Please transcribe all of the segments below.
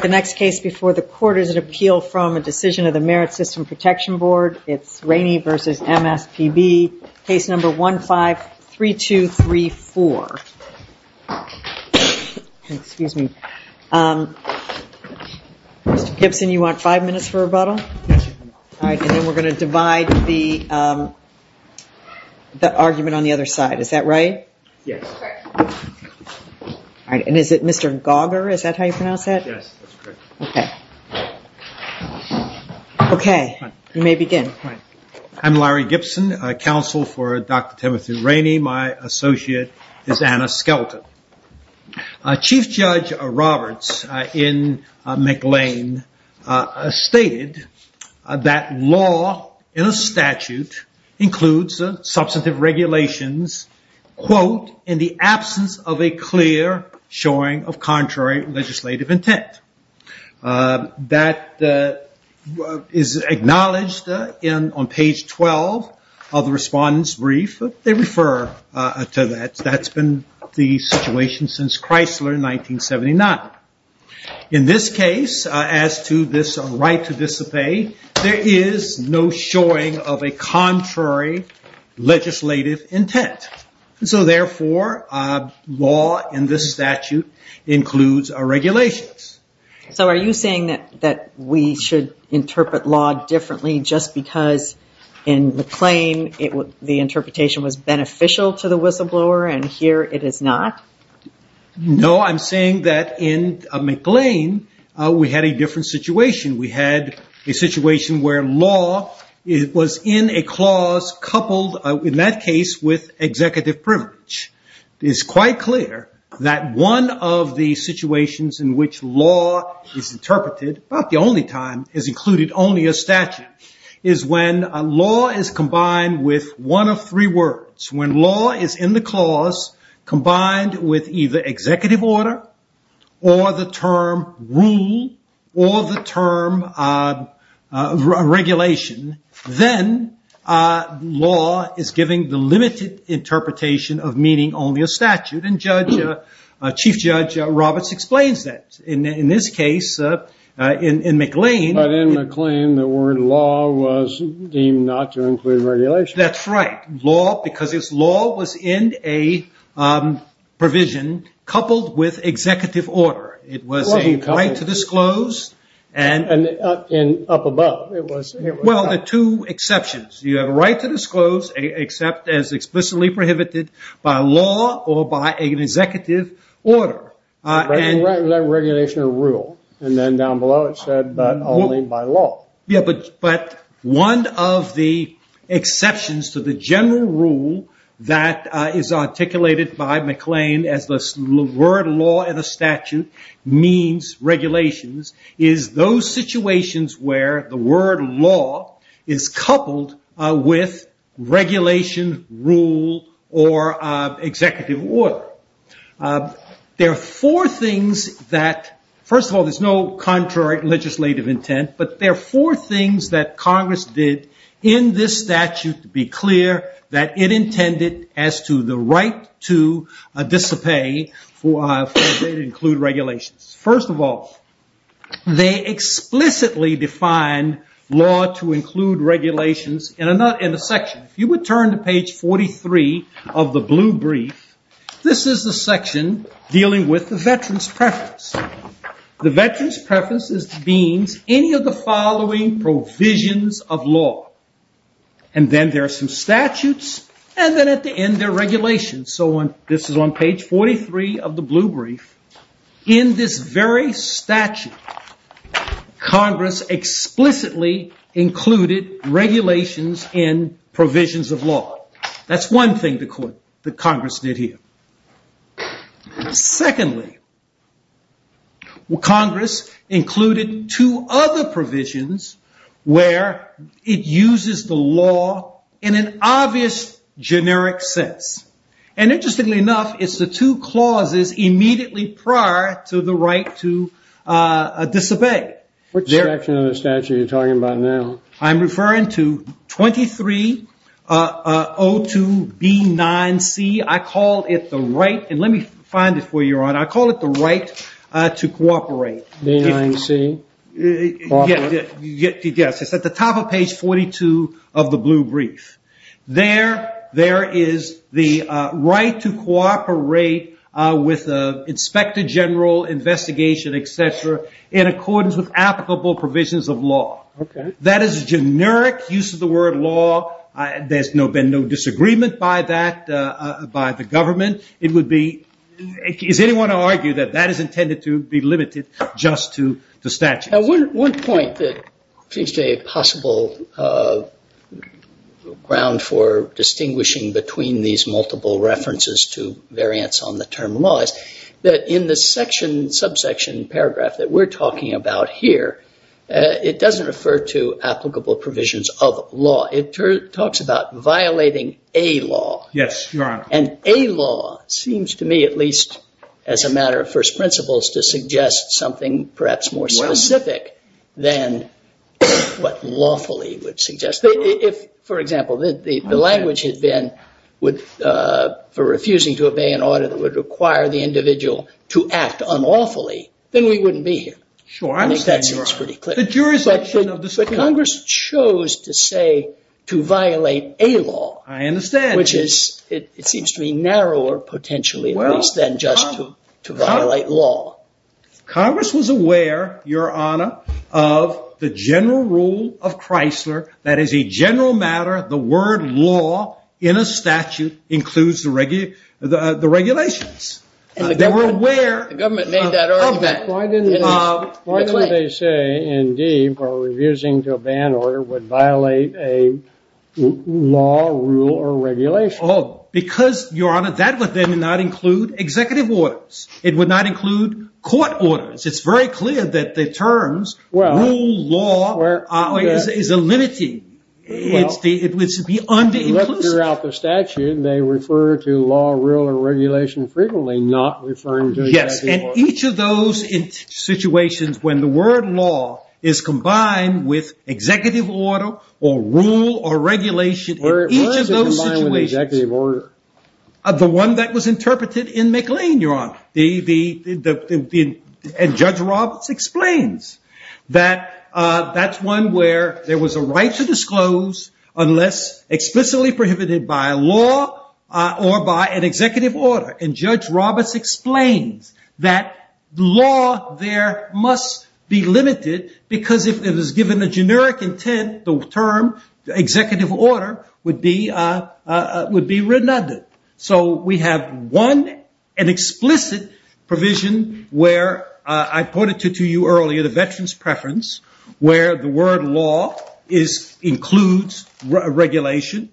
The next case before the court is an appeal from a decision of the Merit System Protection Board. It's Rainey v. MSPB, case number 153234. Mr. Gibson, you want five minutes for rebuttal? And then we're going to divide the argument on the other side. Is that right? Yes. Correct. Okay. You may begin. I'm Larry Gibson, counsel for Dr. Timothy Rainey. My associate is Anna Skelton. Chief Judge Roberts in McLean stated that law in absence of a clear showing of contrary legislative intent. That is acknowledged on page 12 of the respondent's brief. They refer to that. That's been the situation since Chrysler in 1979. In this case, as to this right to dissipate, there is no showing of a contrary legislative intent. So therefore, law in this statute includes regulations. So are you saying that we should interpret law differently just because in McLean the interpretation was beneficial to the whistleblower and here it is not? No, I'm saying that in McLean we had a different situation. We had a situation where law was in a clause coupled, in that case, with executive privilege. It is quite clear that one of the situations in which law is interpreted, about the only time, is included only a statute, is when a law is combined with one of three words. When law is in the clause combined with either executive order or the term rule or the term regulation, then law is giving the limited interpretation of meaning only a statute. Chief Judge Roberts explains that. In this case, in McLean... But in McLean, the word law was deemed not to include regulation. That's right. Law was in a provision coupled with executive order. It was a right to disclose. And up above, it was... Well, the two exceptions. You have a right to disclose, except as explicitly prohibited by law or by an executive order. Right in that regulation or rule. And then down below it said, but only by law. But one of the exceptions to the general rule that is articulated by McLean as the word law in a statute means regulations, is those situations where the word law is coupled with regulation, rule, or executive order. There are four things that... First of all, there's no contrary legislative intent, but there are four things that Congress did in this statute to be clear that it intended as to the right to disobey for it to include regulations. First of all, they explicitly defined law to include regulations in a section. If you would turn to page 43 of the blue brief, this is the section dealing with the veteran's preference. The veteran's preference means any of the following provisions of law. And then there are some statutes, and then at the end there are regulations. So this is on page 43 of the blue brief. In this very statute, Congress explicitly included regulations in provisions of law. That's one thing that Congress did here. Secondly, Congress included two other provisions where it uses the law in an obvious generic sense. And interestingly enough, it's the two clauses immediately prior to the right to disobey. What section of the statute are you talking about now? I'm referring to 2302B9C. I call it the right... And let me find it for you, Your Honor. I call it the right to cooperate. B9C? Yes. It's at the top of page 42 of the blue brief. There is the right to cooperate with the inspector general, investigation, et cetera, in accordance with applicable provisions of law. That is a generic use of the word law. There's been no disagreement by the government. It would be... Is anyone to argue that that is intended to be limited just to the statute? Now, one point that seems to be a possible ground for distinguishing between these multiple references to variance on the term law is that in the subsection paragraph that we're talking about here, it doesn't refer to applicable provisions of law. It talks about violating a law. Yes, Your Honor. And a law seems to me at least as a matter of first principles to suggest something perhaps more specific than what lawfully would suggest. If, for example, the language had been for refusing to obey an order that would require the individual to act unlawfully, then we wouldn't be here. I think that seems pretty clear. But Congress chose to say to violate a law, which seems to be narrower potentially at least than just to violate law. Congress was aware, Your Honor, of the general rule of Chrysler that as a general matter, the word law in a statute includes the regulations. They were aware of that. Why didn't they say, indeed, revising to a ban order would violate a law, rule, or regulation? Because, Your Honor, that would then not include executive orders. It would not include court orders. It's very clear that the terms rule, law, or regulation is a limiting. It would be under-inclusive. Throughout the statute, they refer to law, rule, or regulation frequently, not referring to executive order. Yes, and each of those situations when the word law is combined with executive order, or rule, or regulation, in each of those situations, the one that was interpreted in McLean, Your Honor, and Judge Roberts explains that that's one where there was a right to disclose unless explicitly prohibited by law or by an executive order. And Judge Roberts explains that law there must be limited, because if it was given a generic intent, the term executive order would be renuded. So we have one, an explicit provision where I pointed to you earlier, the veteran's preference, where the word law includes regulation.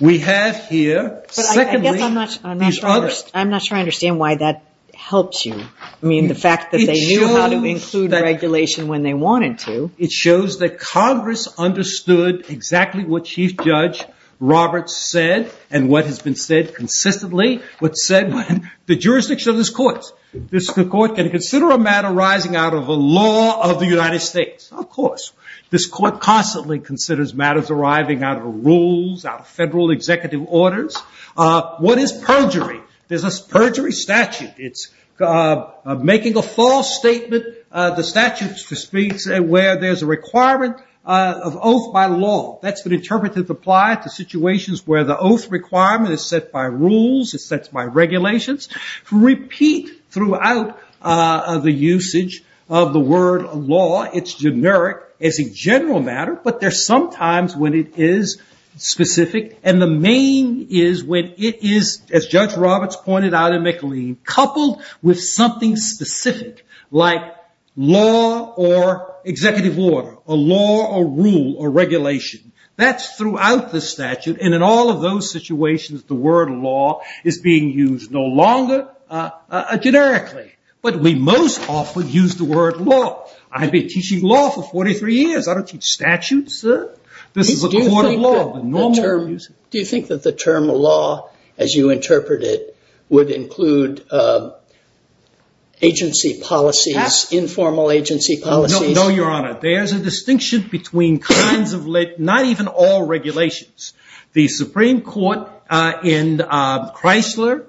We have here, secondly, these others. I'm not sure I understand why that helps you. I mean, the fact that they knew how to include regulation when they wanted to. It shows that Congress understood exactly what Chief Judge Roberts said, and what has been said consistently, what's said in the jurisdiction of this court. This court can consider a matter arising out of a law of the United States. Of course. This court constantly considers matters arriving out of rules, out of federal executive orders. What is perjury? There's a perjury statute. It's making a false statement. The statute speaks where there's a requirement of oath by law. That's been interpreted to apply to rules. It sets by regulations. To repeat throughout the usage of the word law, it's generic as a general matter, but there's sometimes when it is specific. And the main is when it is, as Judge Roberts pointed out in McLean, coupled with something specific, like law or executive order, or law or rule or regulation. That's throughout the statute. And in all of those situations, the word law is being used no longer generically. But we most often use the word law. I've been teaching law for 43 years. I don't teach statutes, sir. This is a court of law. Do you think that the term law, as you interpret it, would include agency or not even all regulations? The Supreme Court in Chrysler,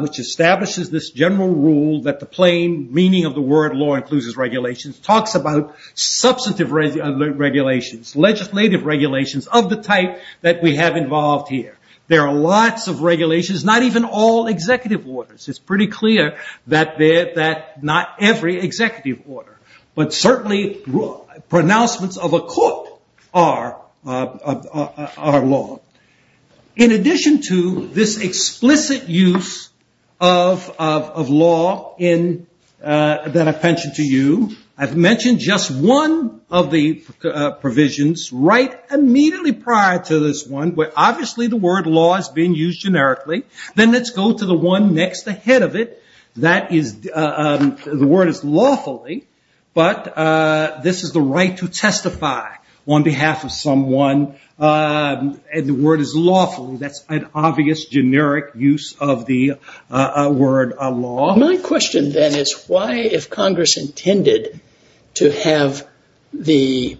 which establishes this general rule that the plain meaning of the word law includes regulations, talks about substantive regulations, legislative regulations of the type that we have involved here. There are lots of regulations, not even all executive orders. It's pretty clear that not every executive order, but certainly pronouncements of a court are law. In addition to this explicit use of law that I've mentioned to you, I've mentioned just one of the provisions right immediately prior to this one, where obviously the word law is being used generically. Then let's go to the one next ahead of it. The word is lawfully, but this is the right to testify on behalf of someone. And the word is lawfully. That's an obvious generic use of the word law. My question then is why, if Congress intended to have the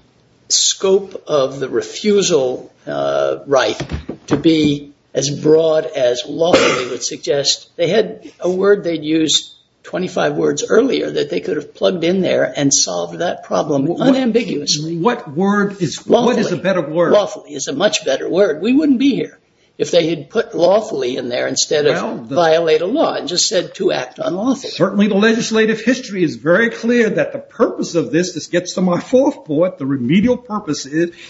scope of the refusal right to be as broad as lawfully would suggest, they had a word they'd use 25 words earlier that they could have plugged in there and solved that problem unambiguously. What is a better word? Lawfully is a much better word. We wouldn't be here if they had put lawfully in there instead of violate a law and just said to act unlawfully. Certainly the legislative history is very clear that the purpose of this, this gets to my fourth point, the remedial purpose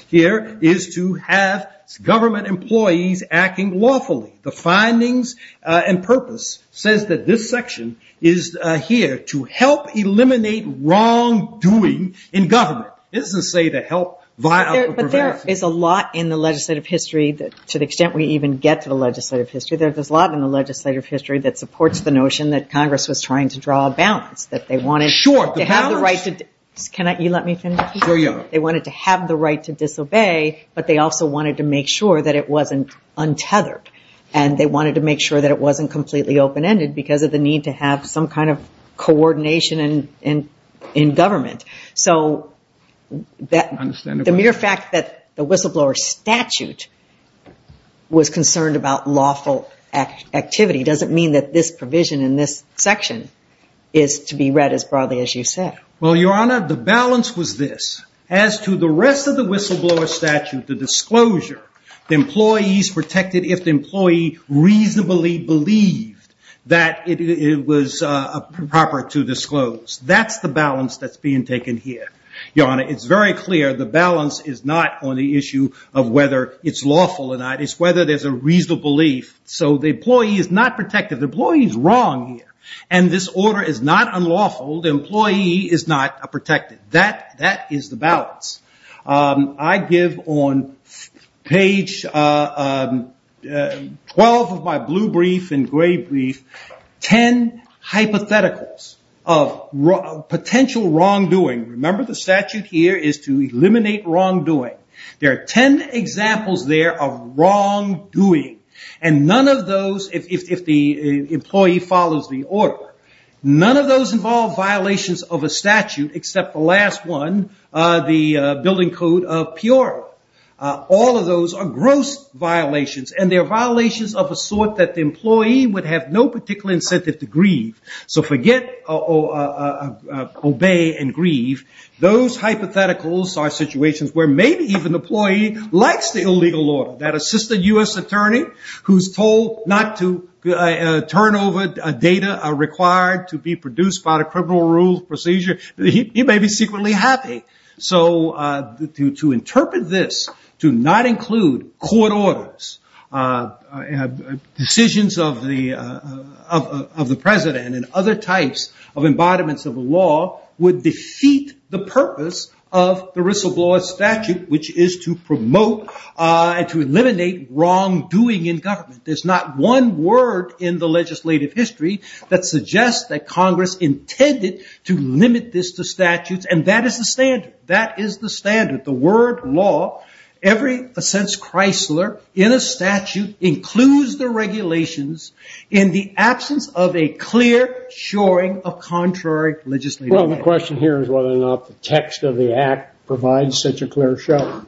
here is to have government employees acting lawfully. The findings and purpose says that this section is here to help eliminate wrongdoing in government. It doesn't say to help violate or prevent. But there is a lot in the legislative history, to the extent we even get to the legislative history, there's a lot in the legislative history that Congress was trying to draw a balance. They wanted to have the right to disobey, but they also wanted to make sure that it wasn't untethered. And they wanted to make sure that it wasn't completely open-ended because of the need to have some kind of coordination in government. So the mere fact that the whistleblower statute was concerned about lawful activity doesn't mean that this provision in this section is to be read as broadly as you said. Well, Your Honor, the balance was this. As to the rest of the whistleblower statute, the disclosure, the employees protected if the employee reasonably believed that it was proper to disclose. That's the balance that's being taken here. Your Honor, it's very clear the balance is not on the issue of whether it's lawful or not. It's whether there's a reasonable belief. So the employee is not protected. The employee is wrong here. And this order is not unlawful. The employee is not protected. That is the balance. I give on page 12 of my blue brief and 10 hypotheticals of potential wrongdoing. Remember the statute here is to eliminate wrongdoing. There are 10 examples there of wrongdoing. And none of those, if the employee follows the order, none of those involve violations of a statute except the last one, the building code of the statute, which is to obey and grieve. So forget obey and grieve. Those hypotheticals are situations where maybe even the employee likes the illegal order. That assistant U.S. attorney who's told not to turn over data required to be produced by the criminal rules procedure, he may be secretly happy. So to interpret this to not include court orders, decisions of the president and other types of embodiments of the law would defeat the purpose of the Risselblad statute, which is to promote and to eliminate wrongdoing in government. There's not one word in the legislative history that suggests that Congress intended to limit this to statutes. And that is the standard. That is the standard. The word law, every sense Chrysler in a statute includes the regulations in the absence of a clear shoring of contrary legislative. Well, the question here is whether or not the text of the act provides such a clear show.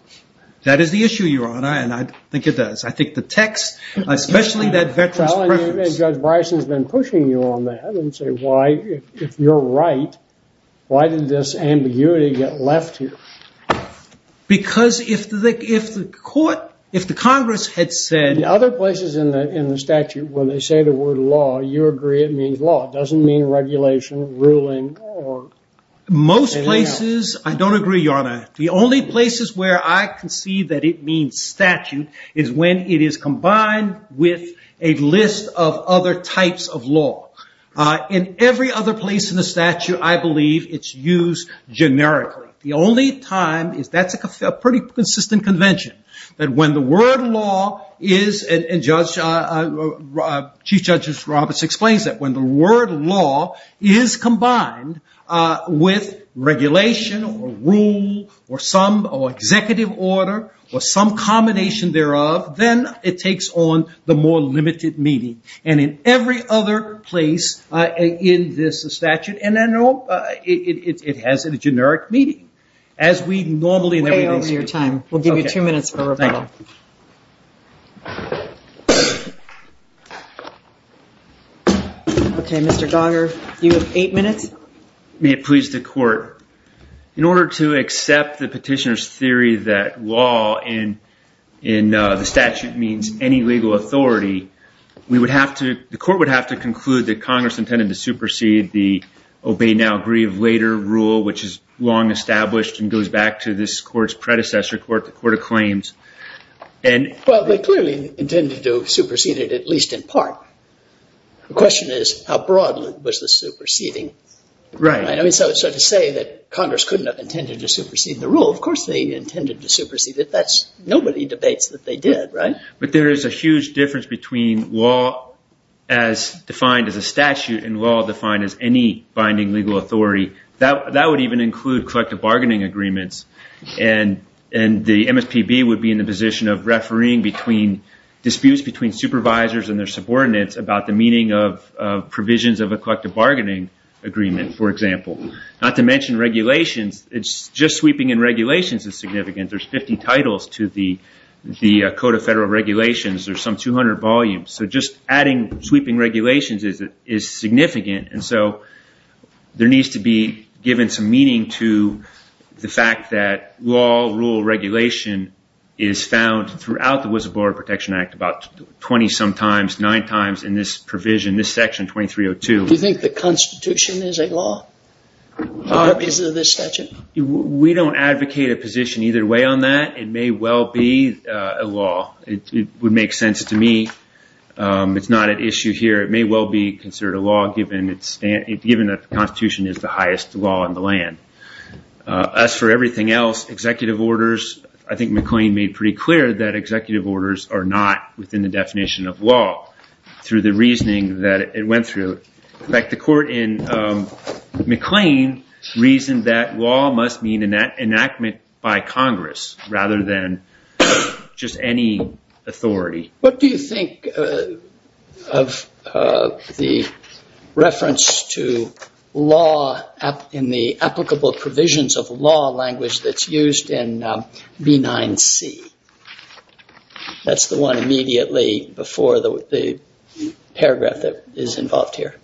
That is the issue, Your Honor. And I think it does. I think the text, especially that veterans preference. Judge Bryson has been pushing you on that and say, why, if you're right, why did this ambiguity get left here? Because if the court, if the Congress had said... Other places in the statute, when they say the word law, you agree it means law. It doesn't mean regulation, ruling. Most places, I don't agree, Your Honor. The only places where I can see that it means statute is when it is combined with a list of other types of law. In every other place in the statute, I believe it's used generically. The only time, that's a pretty consistent convention, that when the word law is, and Chief Judge Roberts explains that, when the word law is combined with regulation or rule or some executive order or some combination thereof, then it takes on the more limited meaning. And in every other place in this statute, and I know it has a generic meaning. As we normally... We're way over your time. We'll give you two minutes for rebuttal. Okay, Mr. Dogger, you have eight minutes. May it please the court. In order to accept the petitioner's theory that law in the statute means any legal authority, we would have to, the court would have to conclude that Congress intended to supersede the Obey Now, Grieve Later rule, which is long established and goes back to this court's predecessor court, the Court of Claims, and... They clearly intended to supersede it, at least in part. The question is, how broad was the superseding? Right. So to say that Congress couldn't have intended to supersede the rule, of course they intended to supersede it. Nobody debates that they did, right? But there is a huge difference between law as defined as a statute and law defined as any binding legal authority. That would even include collective bargaining agreements. And the MSPB would be in the position of refereeing disputes between supervisors and their subordinates about the meaning of provisions of a collective bargaining agreement, for example. Not to mention regulations. Just sweeping in regulations is significant. There's 50 titles to the Code of Federal Regulations. There's some 200 volumes. So just adding sweeping regulations is significant. And so there needs to be given some meaning to the fact that law, rule, regulation is found throughout the Woodsboro Border Protection Act about 20-some times, 9 times in this provision, this Section 2302. Do you think the Constitution is a law? Or is it a statute? We don't advocate a position either way on that. It may well be a law. It would make sense to me. It's not an issue here. It may well be considered a law given that the Constitution is the highest law in the land. As for everything else, executive orders, I think McLean made pretty clear that executive orders are not within the definition of law through the reasoning that it went through. In fact, the court in McLean reasoned that law must mean enactment by Congress rather than just any authority. What do you think of the reference to law in the applicable provisions of law language that's used in B9C? That's the one immediately before the paragraph that is involved here.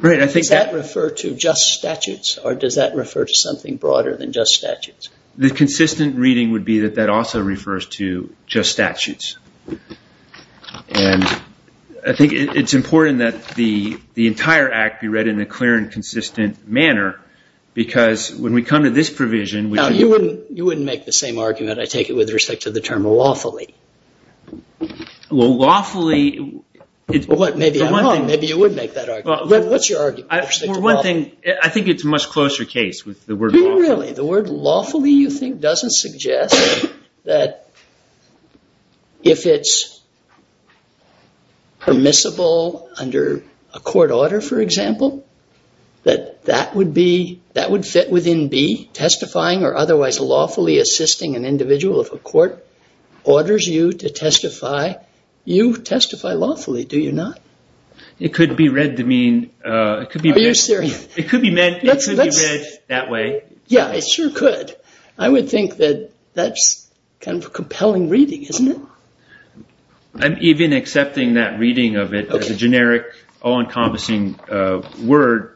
Does that refer to just statutes? Or does that refer to something broader than just statutes? The consistent reading would be that that also refers to just statutes. I think it's important that the entire Act be read in a clear and consistent manner because when we come to this provision... You wouldn't make the same argument, I take it, with respect to the term lawfully. Well, lawfully... Maybe you would make that argument. What's your argument with respect to lawfully? I think it's a much closer case with the word lawfully. Not really. The word lawfully, you think, doesn't suggest that if it's permissible under a court order, for example, that that would fit within B, testifying or otherwise lawfully assisting an individual. If a court orders you to testify, you testify lawfully, do you not? It could be read to mean... Are you serious? It could be read that way. Yeah, it sure could. I would think that that's kind of a compelling reading, isn't it? I'm even accepting that reading of it as a generic, all-encompassing word.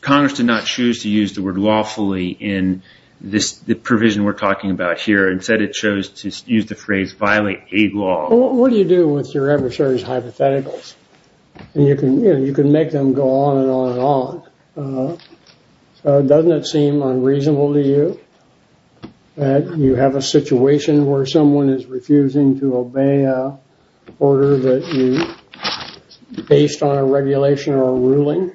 Congress did not choose to use the word lawfully in the provision we're talking about here. Instead, it chose to use the phrase violate a law. What do you do with your adversary's hypotheticals? You can make them go on and on and on. Doesn't it seem unreasonable to you that you have a situation where someone is refusing to obey an order based on a regulation or a ruling?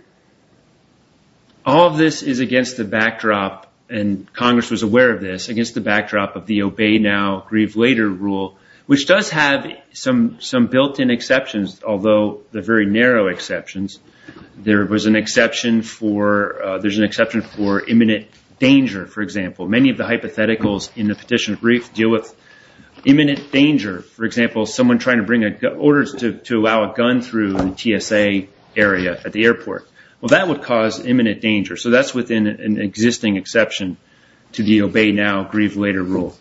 All of this is against the backdrop, and Congress was aware of this, against the backdrop of the obey now, grieve later rule, which does have some built-in exceptions, although they're very narrow exceptions. There's an exception for imminent danger, for example. Many of the hypotheticals in the Petition of Grief deal with imminent danger. For example, someone trying to bring orders to allow a gun through the TSA area at the airport. Well, that would cause imminent danger, so that's within an existing exception to the obey now, grieve later rule.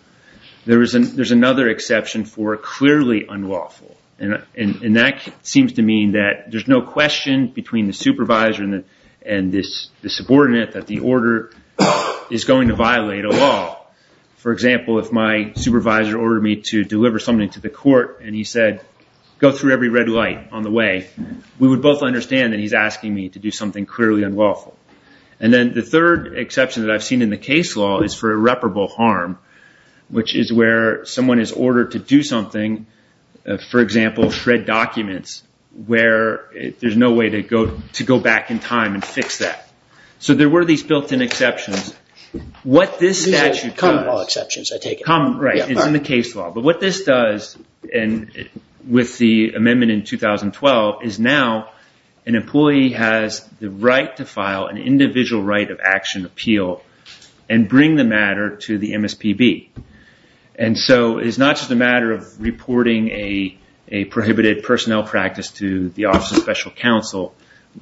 There's another exception for clearly unlawful, and that seems to mean that there's no question between the supervisor and the subordinate that the order is going to violate a law. For example, if my supervisor ordered me to deliver something to the court and he said, go through every red light on the way, we would both understand that he's asking me to do something clearly unlawful. And then the third exception that I've seen in the case law is for irreparable harm, which is where someone is ordered to do something, for example, shred documents, where there's no way to go back in time and fix that. So there were these built-in exceptions. Common law exceptions, I take it. Right, it's in the case law. But what this does, and with the amendment in 2012, is now an employee has the right to file an individual right of action appeal and bring the matter to the MSPB. And so it's not just a matter of reporting a prohibited personnel practice to the Office of Special Counsel,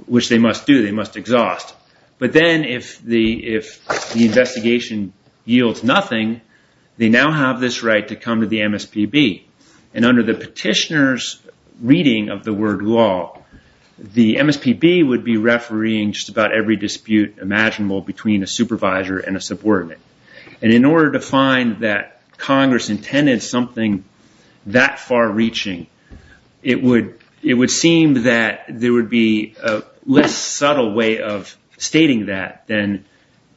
which they must do. They must exhaust. But then if the investigation yields nothing, they now have this right to come to the MSPB. And under the petitioner's reading of the word law, the MSPB would be refereeing just about every dispute imaginable between a supervisor and a subordinate. And in order to find that Congress intended something that far-reaching, it would seem that there would be a less subtle way of stating that than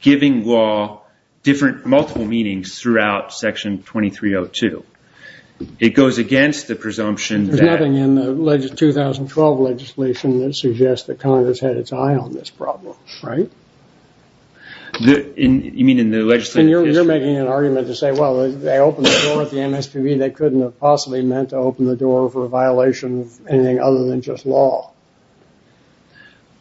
giving law multiple meanings throughout Section 2302. It goes against the presumption that... There's nothing in the 2012 legislation that suggests that Congress had its eye on this problem, right? You mean in the legislative petition? You're making an argument to say, well, they opened the door at the MSPB, they couldn't have possibly meant to open the door for a violation of anything other than just law.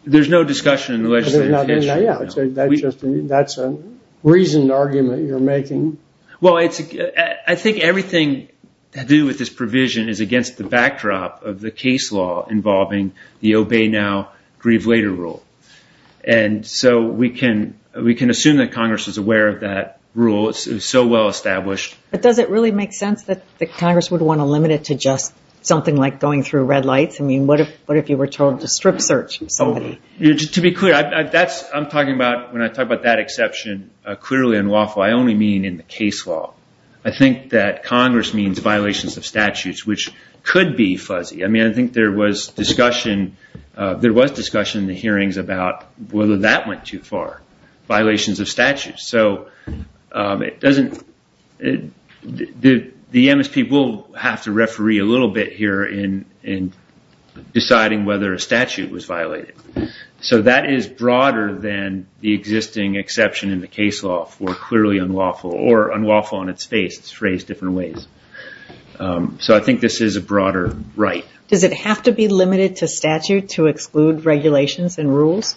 There's no discussion in the legislative petition. That's a reasoned argument you're making. Well, I think everything to do with this provision is against the backdrop of the case law involving the Obey Now, Grieve Later rule. And so we can assume that Congress is aware of that rule. It's so well established. But does it really make sense that Congress would want to limit it to just something like going through red lights? I mean, what if you were told to strip search somebody? To be clear, I'm talking about... When I talk about that exception, clearly unlawful, I only mean in the case law. I think that Congress means violations of statutes, which could be fuzzy. I mean, I think there was discussion in the hearings about whether that went too far, violations of statutes. So it doesn't... The MSP will have to referee a little bit here in deciding whether a statute was violated. So that is broader than the existing exception in the case law for clearly unlawful or unlawful on its face, it's phrased different ways. So I think this is a broader right. Does it have to be limited to statute to exclude regulations and rules?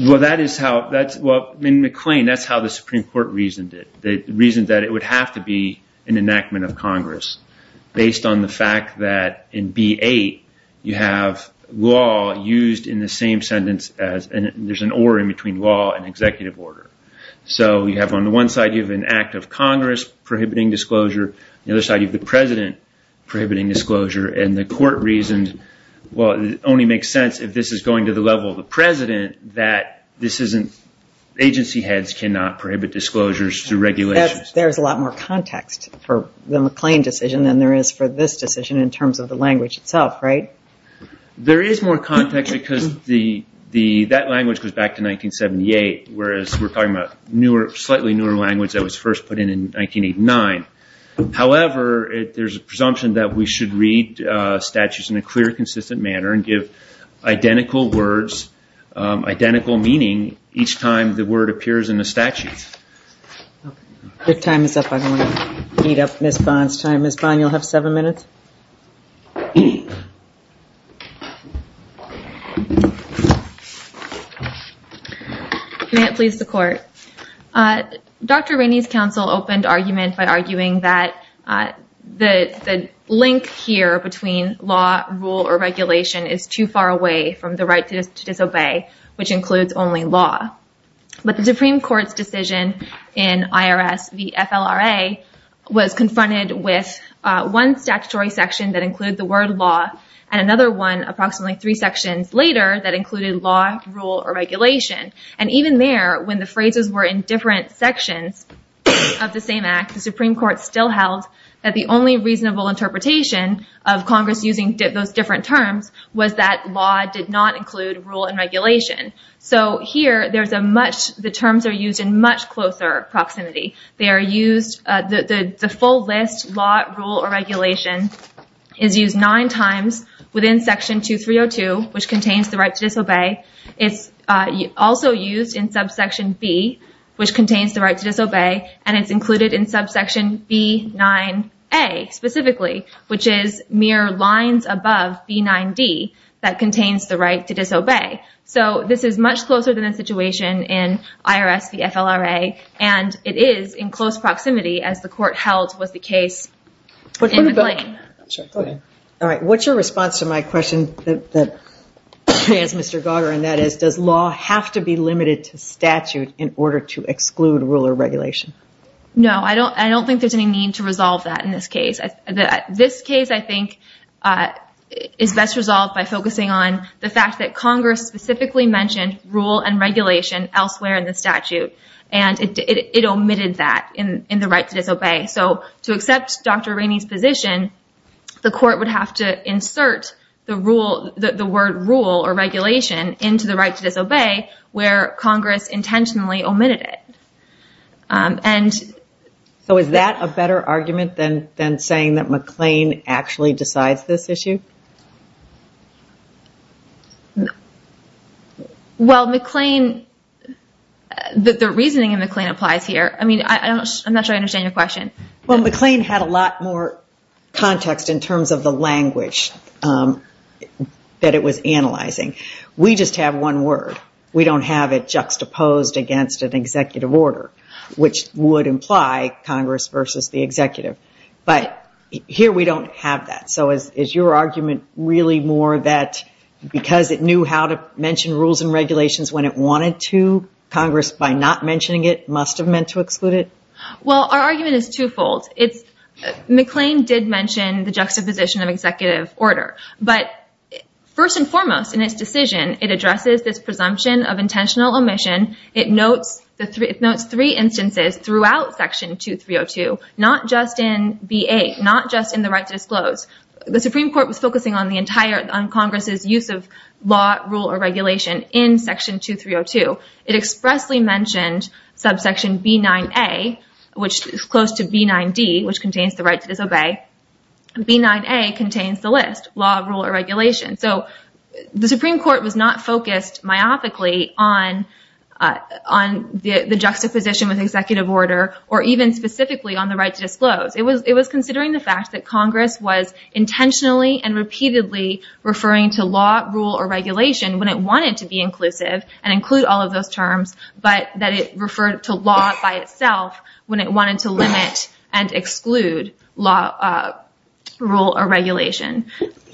Well, that is how... In McLean, that's how the Supreme Court reasoned it. It reasoned that it would have to be an enactment of Congress based on the fact that in B8, you have law used in the same sentence as... There's an or in between law and executive order. So you have, on the one side, you have an act of Congress prohibiting disclosure, on the other side, you have the president prohibiting disclosure, and the court reasoned, well, it only makes sense if this is going to the level of the president, that this isn't... Agency heads cannot prohibit disclosures through regulations. There's a lot more context for the McLean decision than there is for this decision in terms of the language itself, right? There is more context because that language goes back to 1978, whereas we're talking about slightly newer language that was first put in in 1989. However, there's a presumption that we should read statutes in a clear, consistent manner and give identical words, identical meaning each time the word appears in the statute. If time is up, I'm going to eat up Ms. Bond's time. Ms. Bond, you'll have seven minutes. May it please the court. Dr. Rainey's counsel opened argument by arguing that the link here between law, rule, or regulation is too far away from the right to disobey, which includes only law. But the Supreme Court's decision in IRS v. FLRA was confronted with one statutory section that included the word law and another one, approximately three sections later, that included law, rule, or regulation. And even there, when the phrases were in different sections of the same act, the Supreme Court still held that the only reasonable interpretation of Congress using those different terms was that law did not include rule and regulation. So here, the terms are used in much closer proximity. The full list, law, rule, or regulation is used nine times within Section 2302, which contains the right to disobey. It's also used in Subsection B, which contains the right to disobey, and it's included in Subsection B9A specifically, which is mere lines above B9D that contains the right to disobey. So this is much closer than the situation in IRS v. FLRA, and it is in close proximity as the Court held was the case in McLean. What's your response to my question that I asked Mr. Goger, and that is, does law have to be limited to statute in order to exclude rule or regulation? No, I don't think there's any need to resolve that in this case. This case, I think, is best resolved by focusing on the fact that Congress specifically mentioned rule and regulation elsewhere in the statute, and it omitted that in the right to disobey. So to accept Dr. Rainey's position, the Court would have to insert the word rule or regulation into the right to disobey where Congress intentionally omitted it. So is that a better argument than saying that McLean actually decides this issue? Well, McLean, the reasoning in McLean applies here. I mean, I'm not sure I understand your question. Well, McLean had a lot more context in terms of the language that it was analyzing. We just have one word. We don't have it juxtaposed against an executive order, which would imply Congress versus the executive. But here we don't have that. So is your argument really more that because it knew how to mention rules and regulations when it wanted to, Congress, by not mentioning it, must have meant to exclude it? Well, our argument is twofold. McLean did mention the juxtaposition of executive order. But first and foremost in its decision, it addresses this presumption of intentional omission. It notes three instances throughout Section 2302, not just in B.A., not just in the right to disclose. The Supreme Court was focusing on Congress's use of law, rule, or regulation in Section 2302. It expressly mentioned subsection B9A, which is close to B9D, which contains the right to disobey. B9A contains the list, law, rule, or regulation. So the Supreme Court was not focused myopically on the juxtaposition with executive order or even specifically on the right to disclose. intentionally and repeatedly referring to law, rule, or regulation when it wanted to be inclusive and include all of those terms, but that it referred to law by itself when it wanted to limit and exclude law, rule, or regulation.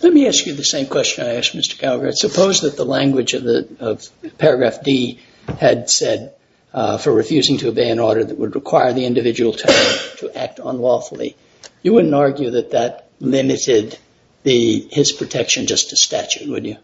Let me ask you the same question I asked Mr. Calgary. Suppose that the language of Paragraph D had said for refusing to obey an order that would require the individual to act unlawfully. You wouldn't argue that that limited his protection just to statute, would you?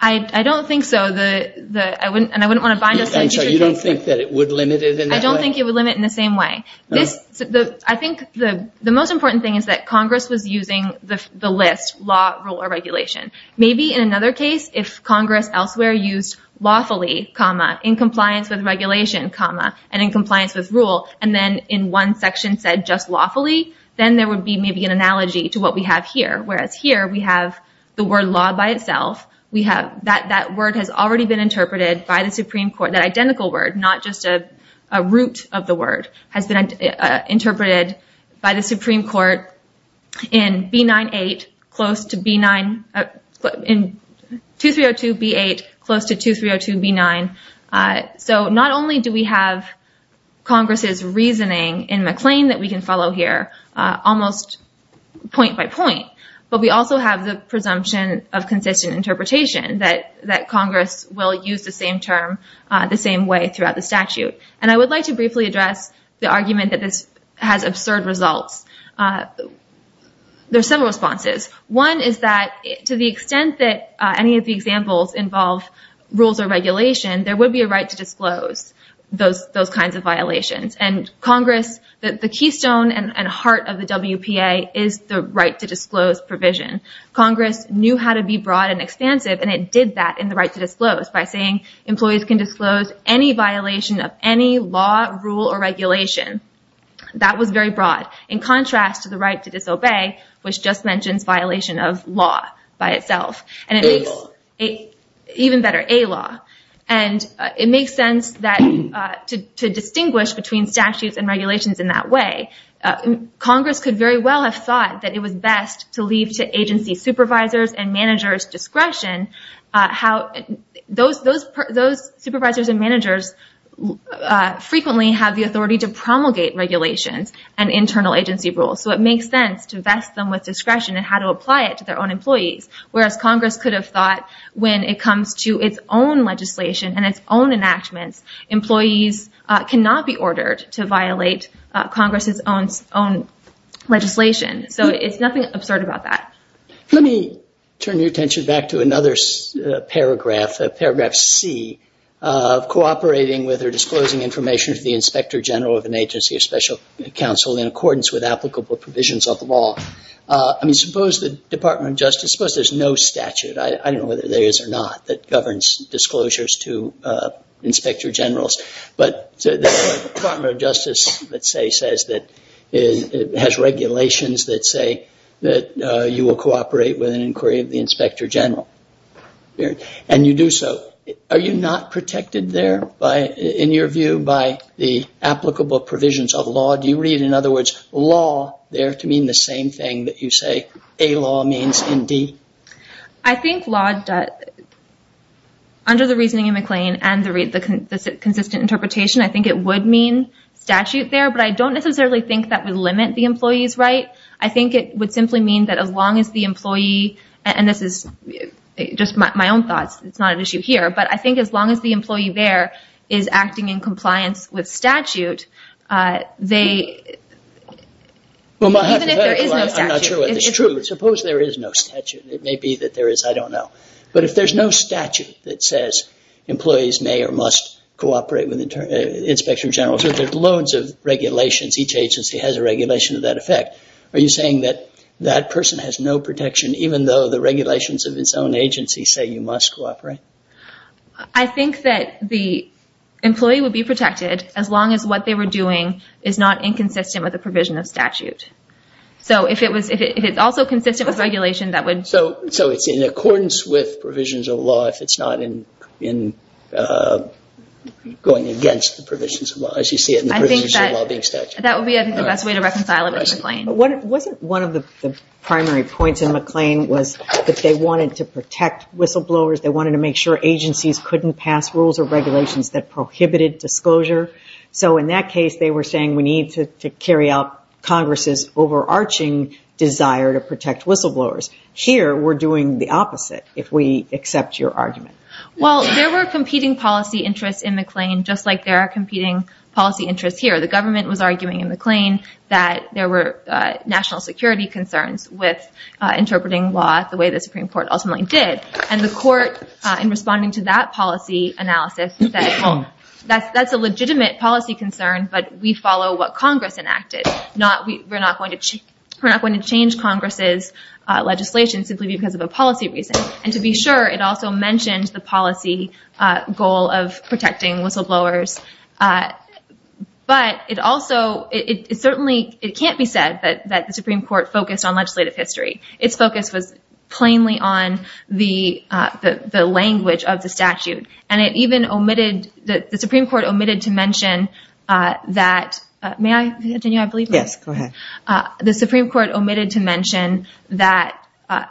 I don't think so. You don't think that it would limit it in that way? I don't think it would limit it in the same way. The most important thing is that Congress was using the list, law, rule, or regulation. Maybe in another case, if Congress elsewhere used lawfully, in compliance with regulation, and in compliance with rule, and then in one section said just lawfully, then there would be maybe an analogy to what we have here. Whereas here, we have the word law by itself. That word has already been interpreted by the Supreme Court. That identical word, not just a root of the word, has been interpreted by the Supreme Court in 2302b8 close to 2302b9. So not only do we have Congress's reasoning in McLean that we can follow here almost point by point, but we also have the presumption of consistent interpretation that Congress will use the same term the same way throughout the statute. I would like to briefly address the argument that this has absurd results. There are several responses. One is that to the extent that any of the examples involve rules or regulation, there would be a right to disclose those kinds of violations. The keystone and heart of the WPA is the right to disclose provision. Congress knew how to be broad and expansive and it did that in the right to disclose by saying employees can disclose any violation of any law, rule, or regulation. That was very broad. In contrast to the right to disobey, which just mentions violation of law by itself. Even better, a law. It makes sense to distinguish between statutes and regulations in that way. Congress could very well have thought that it was best to leave to agency supervisors and managers discretion. Those supervisors and managers frequently have the authority to promulgate regulations and internal agency rules. So it makes sense to vest them with Congress could have thought when it comes to its own legislation and its own enactments, employees cannot be ordered to violate Congress's own legislation. So it's nothing absurd about that. Let me turn your attention back to another paragraph, paragraph C of cooperating with or disclosing information to the inspector general of an agency of special counsel in accordance with applicable provisions of the law. I mean, suppose the Department of Justice, suppose there's no statute. I don't know whether there is or not that governs disclosures to inspector generals. But the Department of Justice, let's say, says that it has regulations that say that you will cooperate with an inquiry of the inspector general. And you do so. Are you not protected there, in your view, by the applicable provisions of law? Do you read, in other words, law there to mean the same thing that you say a law means in D? I think law does. Under the reasoning in McLean and the consistent interpretation, I think it would mean statute there. But I don't necessarily think that would limit the employee's right. I think it would simply mean that as long as the employee, and this is just my own thoughts. It's not an issue here. But I think as long as the employee there is acting in compliance with statute, even if there is no statute. Suppose there is no statute. It may be that there is, I don't know. But if there's no statute that says employees may or must cooperate with inspector generals, there's loads of regulations. Each agency has a regulation of that effect. Are you saying that that person has no protection, even though the regulations of its own agency say you must cooperate? I think that the employee would be protected as long as what they were doing is not inconsistent with the provision of statute. So if it's also consistent with regulation that would So it's in accordance with provisions of law if it's not in going against the provisions of law. That would be the best way to reconcile it with McLean. Wasn't one of the primary points in McLean was that they wanted to protect whistleblowers. They wanted to make sure agencies couldn't pass rules or regulations that prohibited disclosure. So in that case, they were saying we need to carry out Congress' overarching desire to protect whistleblowers. Here, we're doing the opposite, if we accept your argument. Well, there were competing policy interests in McLean just like there are competing policy interests here. The government was arguing in McLean that there were national security concerns with interpreting law the way the Supreme Court ultimately did. And the court in responding to that policy analysis said that's a legitimate policy concern, but we follow what Congress enacted. We're not going to change Congress' legislation simply because of a policy reason. And to be sure, it also mentioned the policy goal of protecting whistleblowers. But it also certainly can't be said that the Supreme Court focused on legislative history. Its focus was plainly on the language of the statute. And the Supreme Court omitted to mention that the Supreme Court omitted to mention that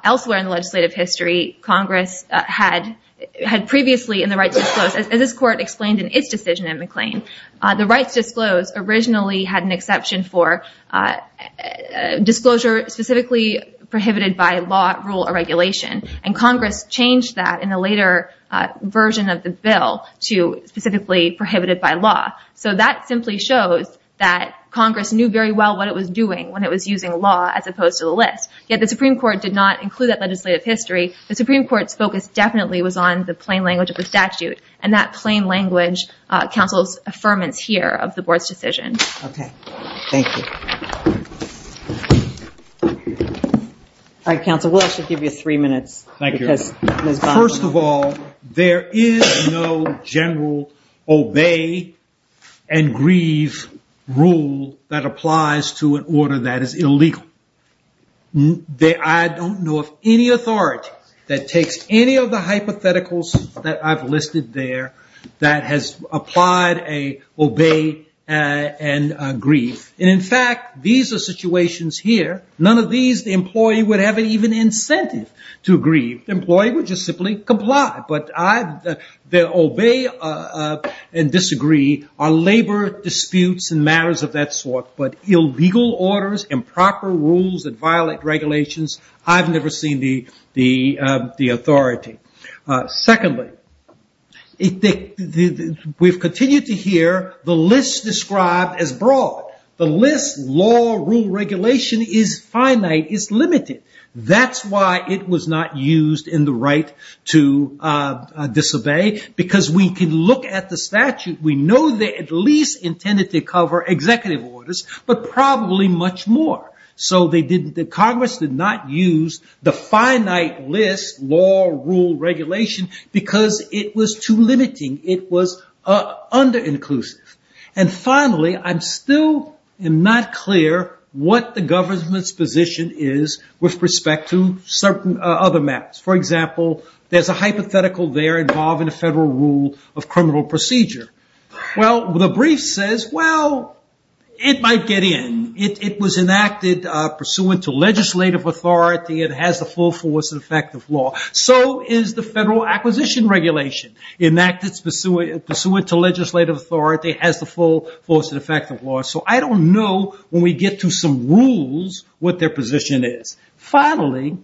elsewhere in the legislative history, Congress had previously in the rights disclosed, as this court explained in its decision in McLean, the rights disclosed originally had an exception for disclosure specifically prohibited by law, rule, or regulation. And Congress changed that in a later version of the bill to specifically prohibited by law. So that simply shows that Congress knew very well what it was doing when it was using law as opposed to the list. Yet the Supreme Court did not include that legislative history. The Supreme Court's focus definitely was on the plain language. Counsel's affirmance here of the Board's decision. Okay. Thank you. Alright, Counsel. We'll actually give you three minutes. Thank you. First of all, there is no general obey and grieve rule that applies to an order that is illegal. I don't know of any authority that takes any of the that has applied an obey and grieve. And in fact, these are situations here. None of these, the employee would have even incentive to grieve. The employee would just simply comply. But the obey and disagree are labor disputes and matters of that sort. But illegal orders and proper rules that violate regulations, I've never seen the authority. Secondly, we've continued to hear the list described as broad. The list law rule regulation is finite. It's limited. That's why it was not used in the right to disobey because we can look at the statute. We know they at least intended to cover executive orders but probably much more. So Congress did not use the finite list law rule regulation because it was too limiting. It was under inclusive. And finally, I'm still not clear what the government's position is with respect to certain other maps. For example, there's a hypothetical there involving a federal rule of criminal procedure. Well, the brief says, well it might get in. It was enacted pursuant to legislative authority. It has the full force and effect of law. So is the federal acquisition regulation enacted pursuant to legislative authority. It has the full force and effect of law. So I don't know when we get to some rules what their position is. Finally,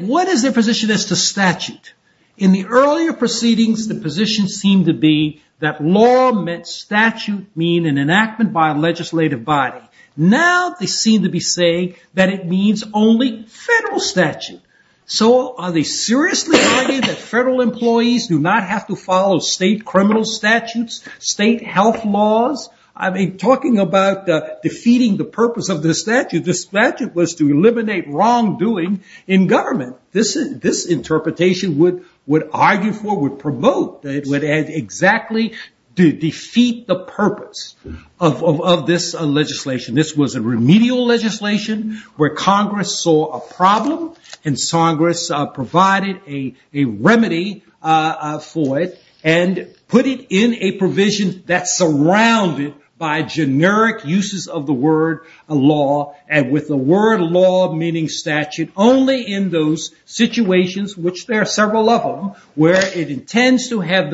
what is their position as to statute? In the earlier proceedings, the position seemed to be that law meant statute mean an enactment by a legislative body. Now they seem to be saying that it means only federal statute. So are they seriously arguing that federal employees do not have to follow state criminal statutes, state health laws? I mean, talking about defeating the purpose of the statute, the statute was to eliminate wrong doing in government. This interpretation would argue for, would promote, would exactly defeat the purpose of this legislation. This was a remedial legislation where Congress saw a problem and Congress provided a remedy for it and put it in a provision that's surrounded by generic uses of the word law and with the word law meaning statute only in those situations, which there are the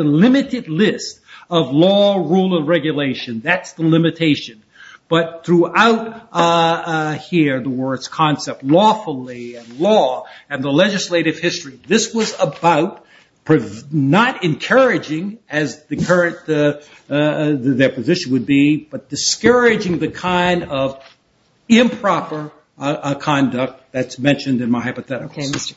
limited list of law, rule, and regulation. That's the limitation. But throughout here, the words concept lawfully and law and the legislative history, this was about not encouraging as the current, their position would be, but discouraging the kind of improper conduct that's mentioned in my hypotheticals.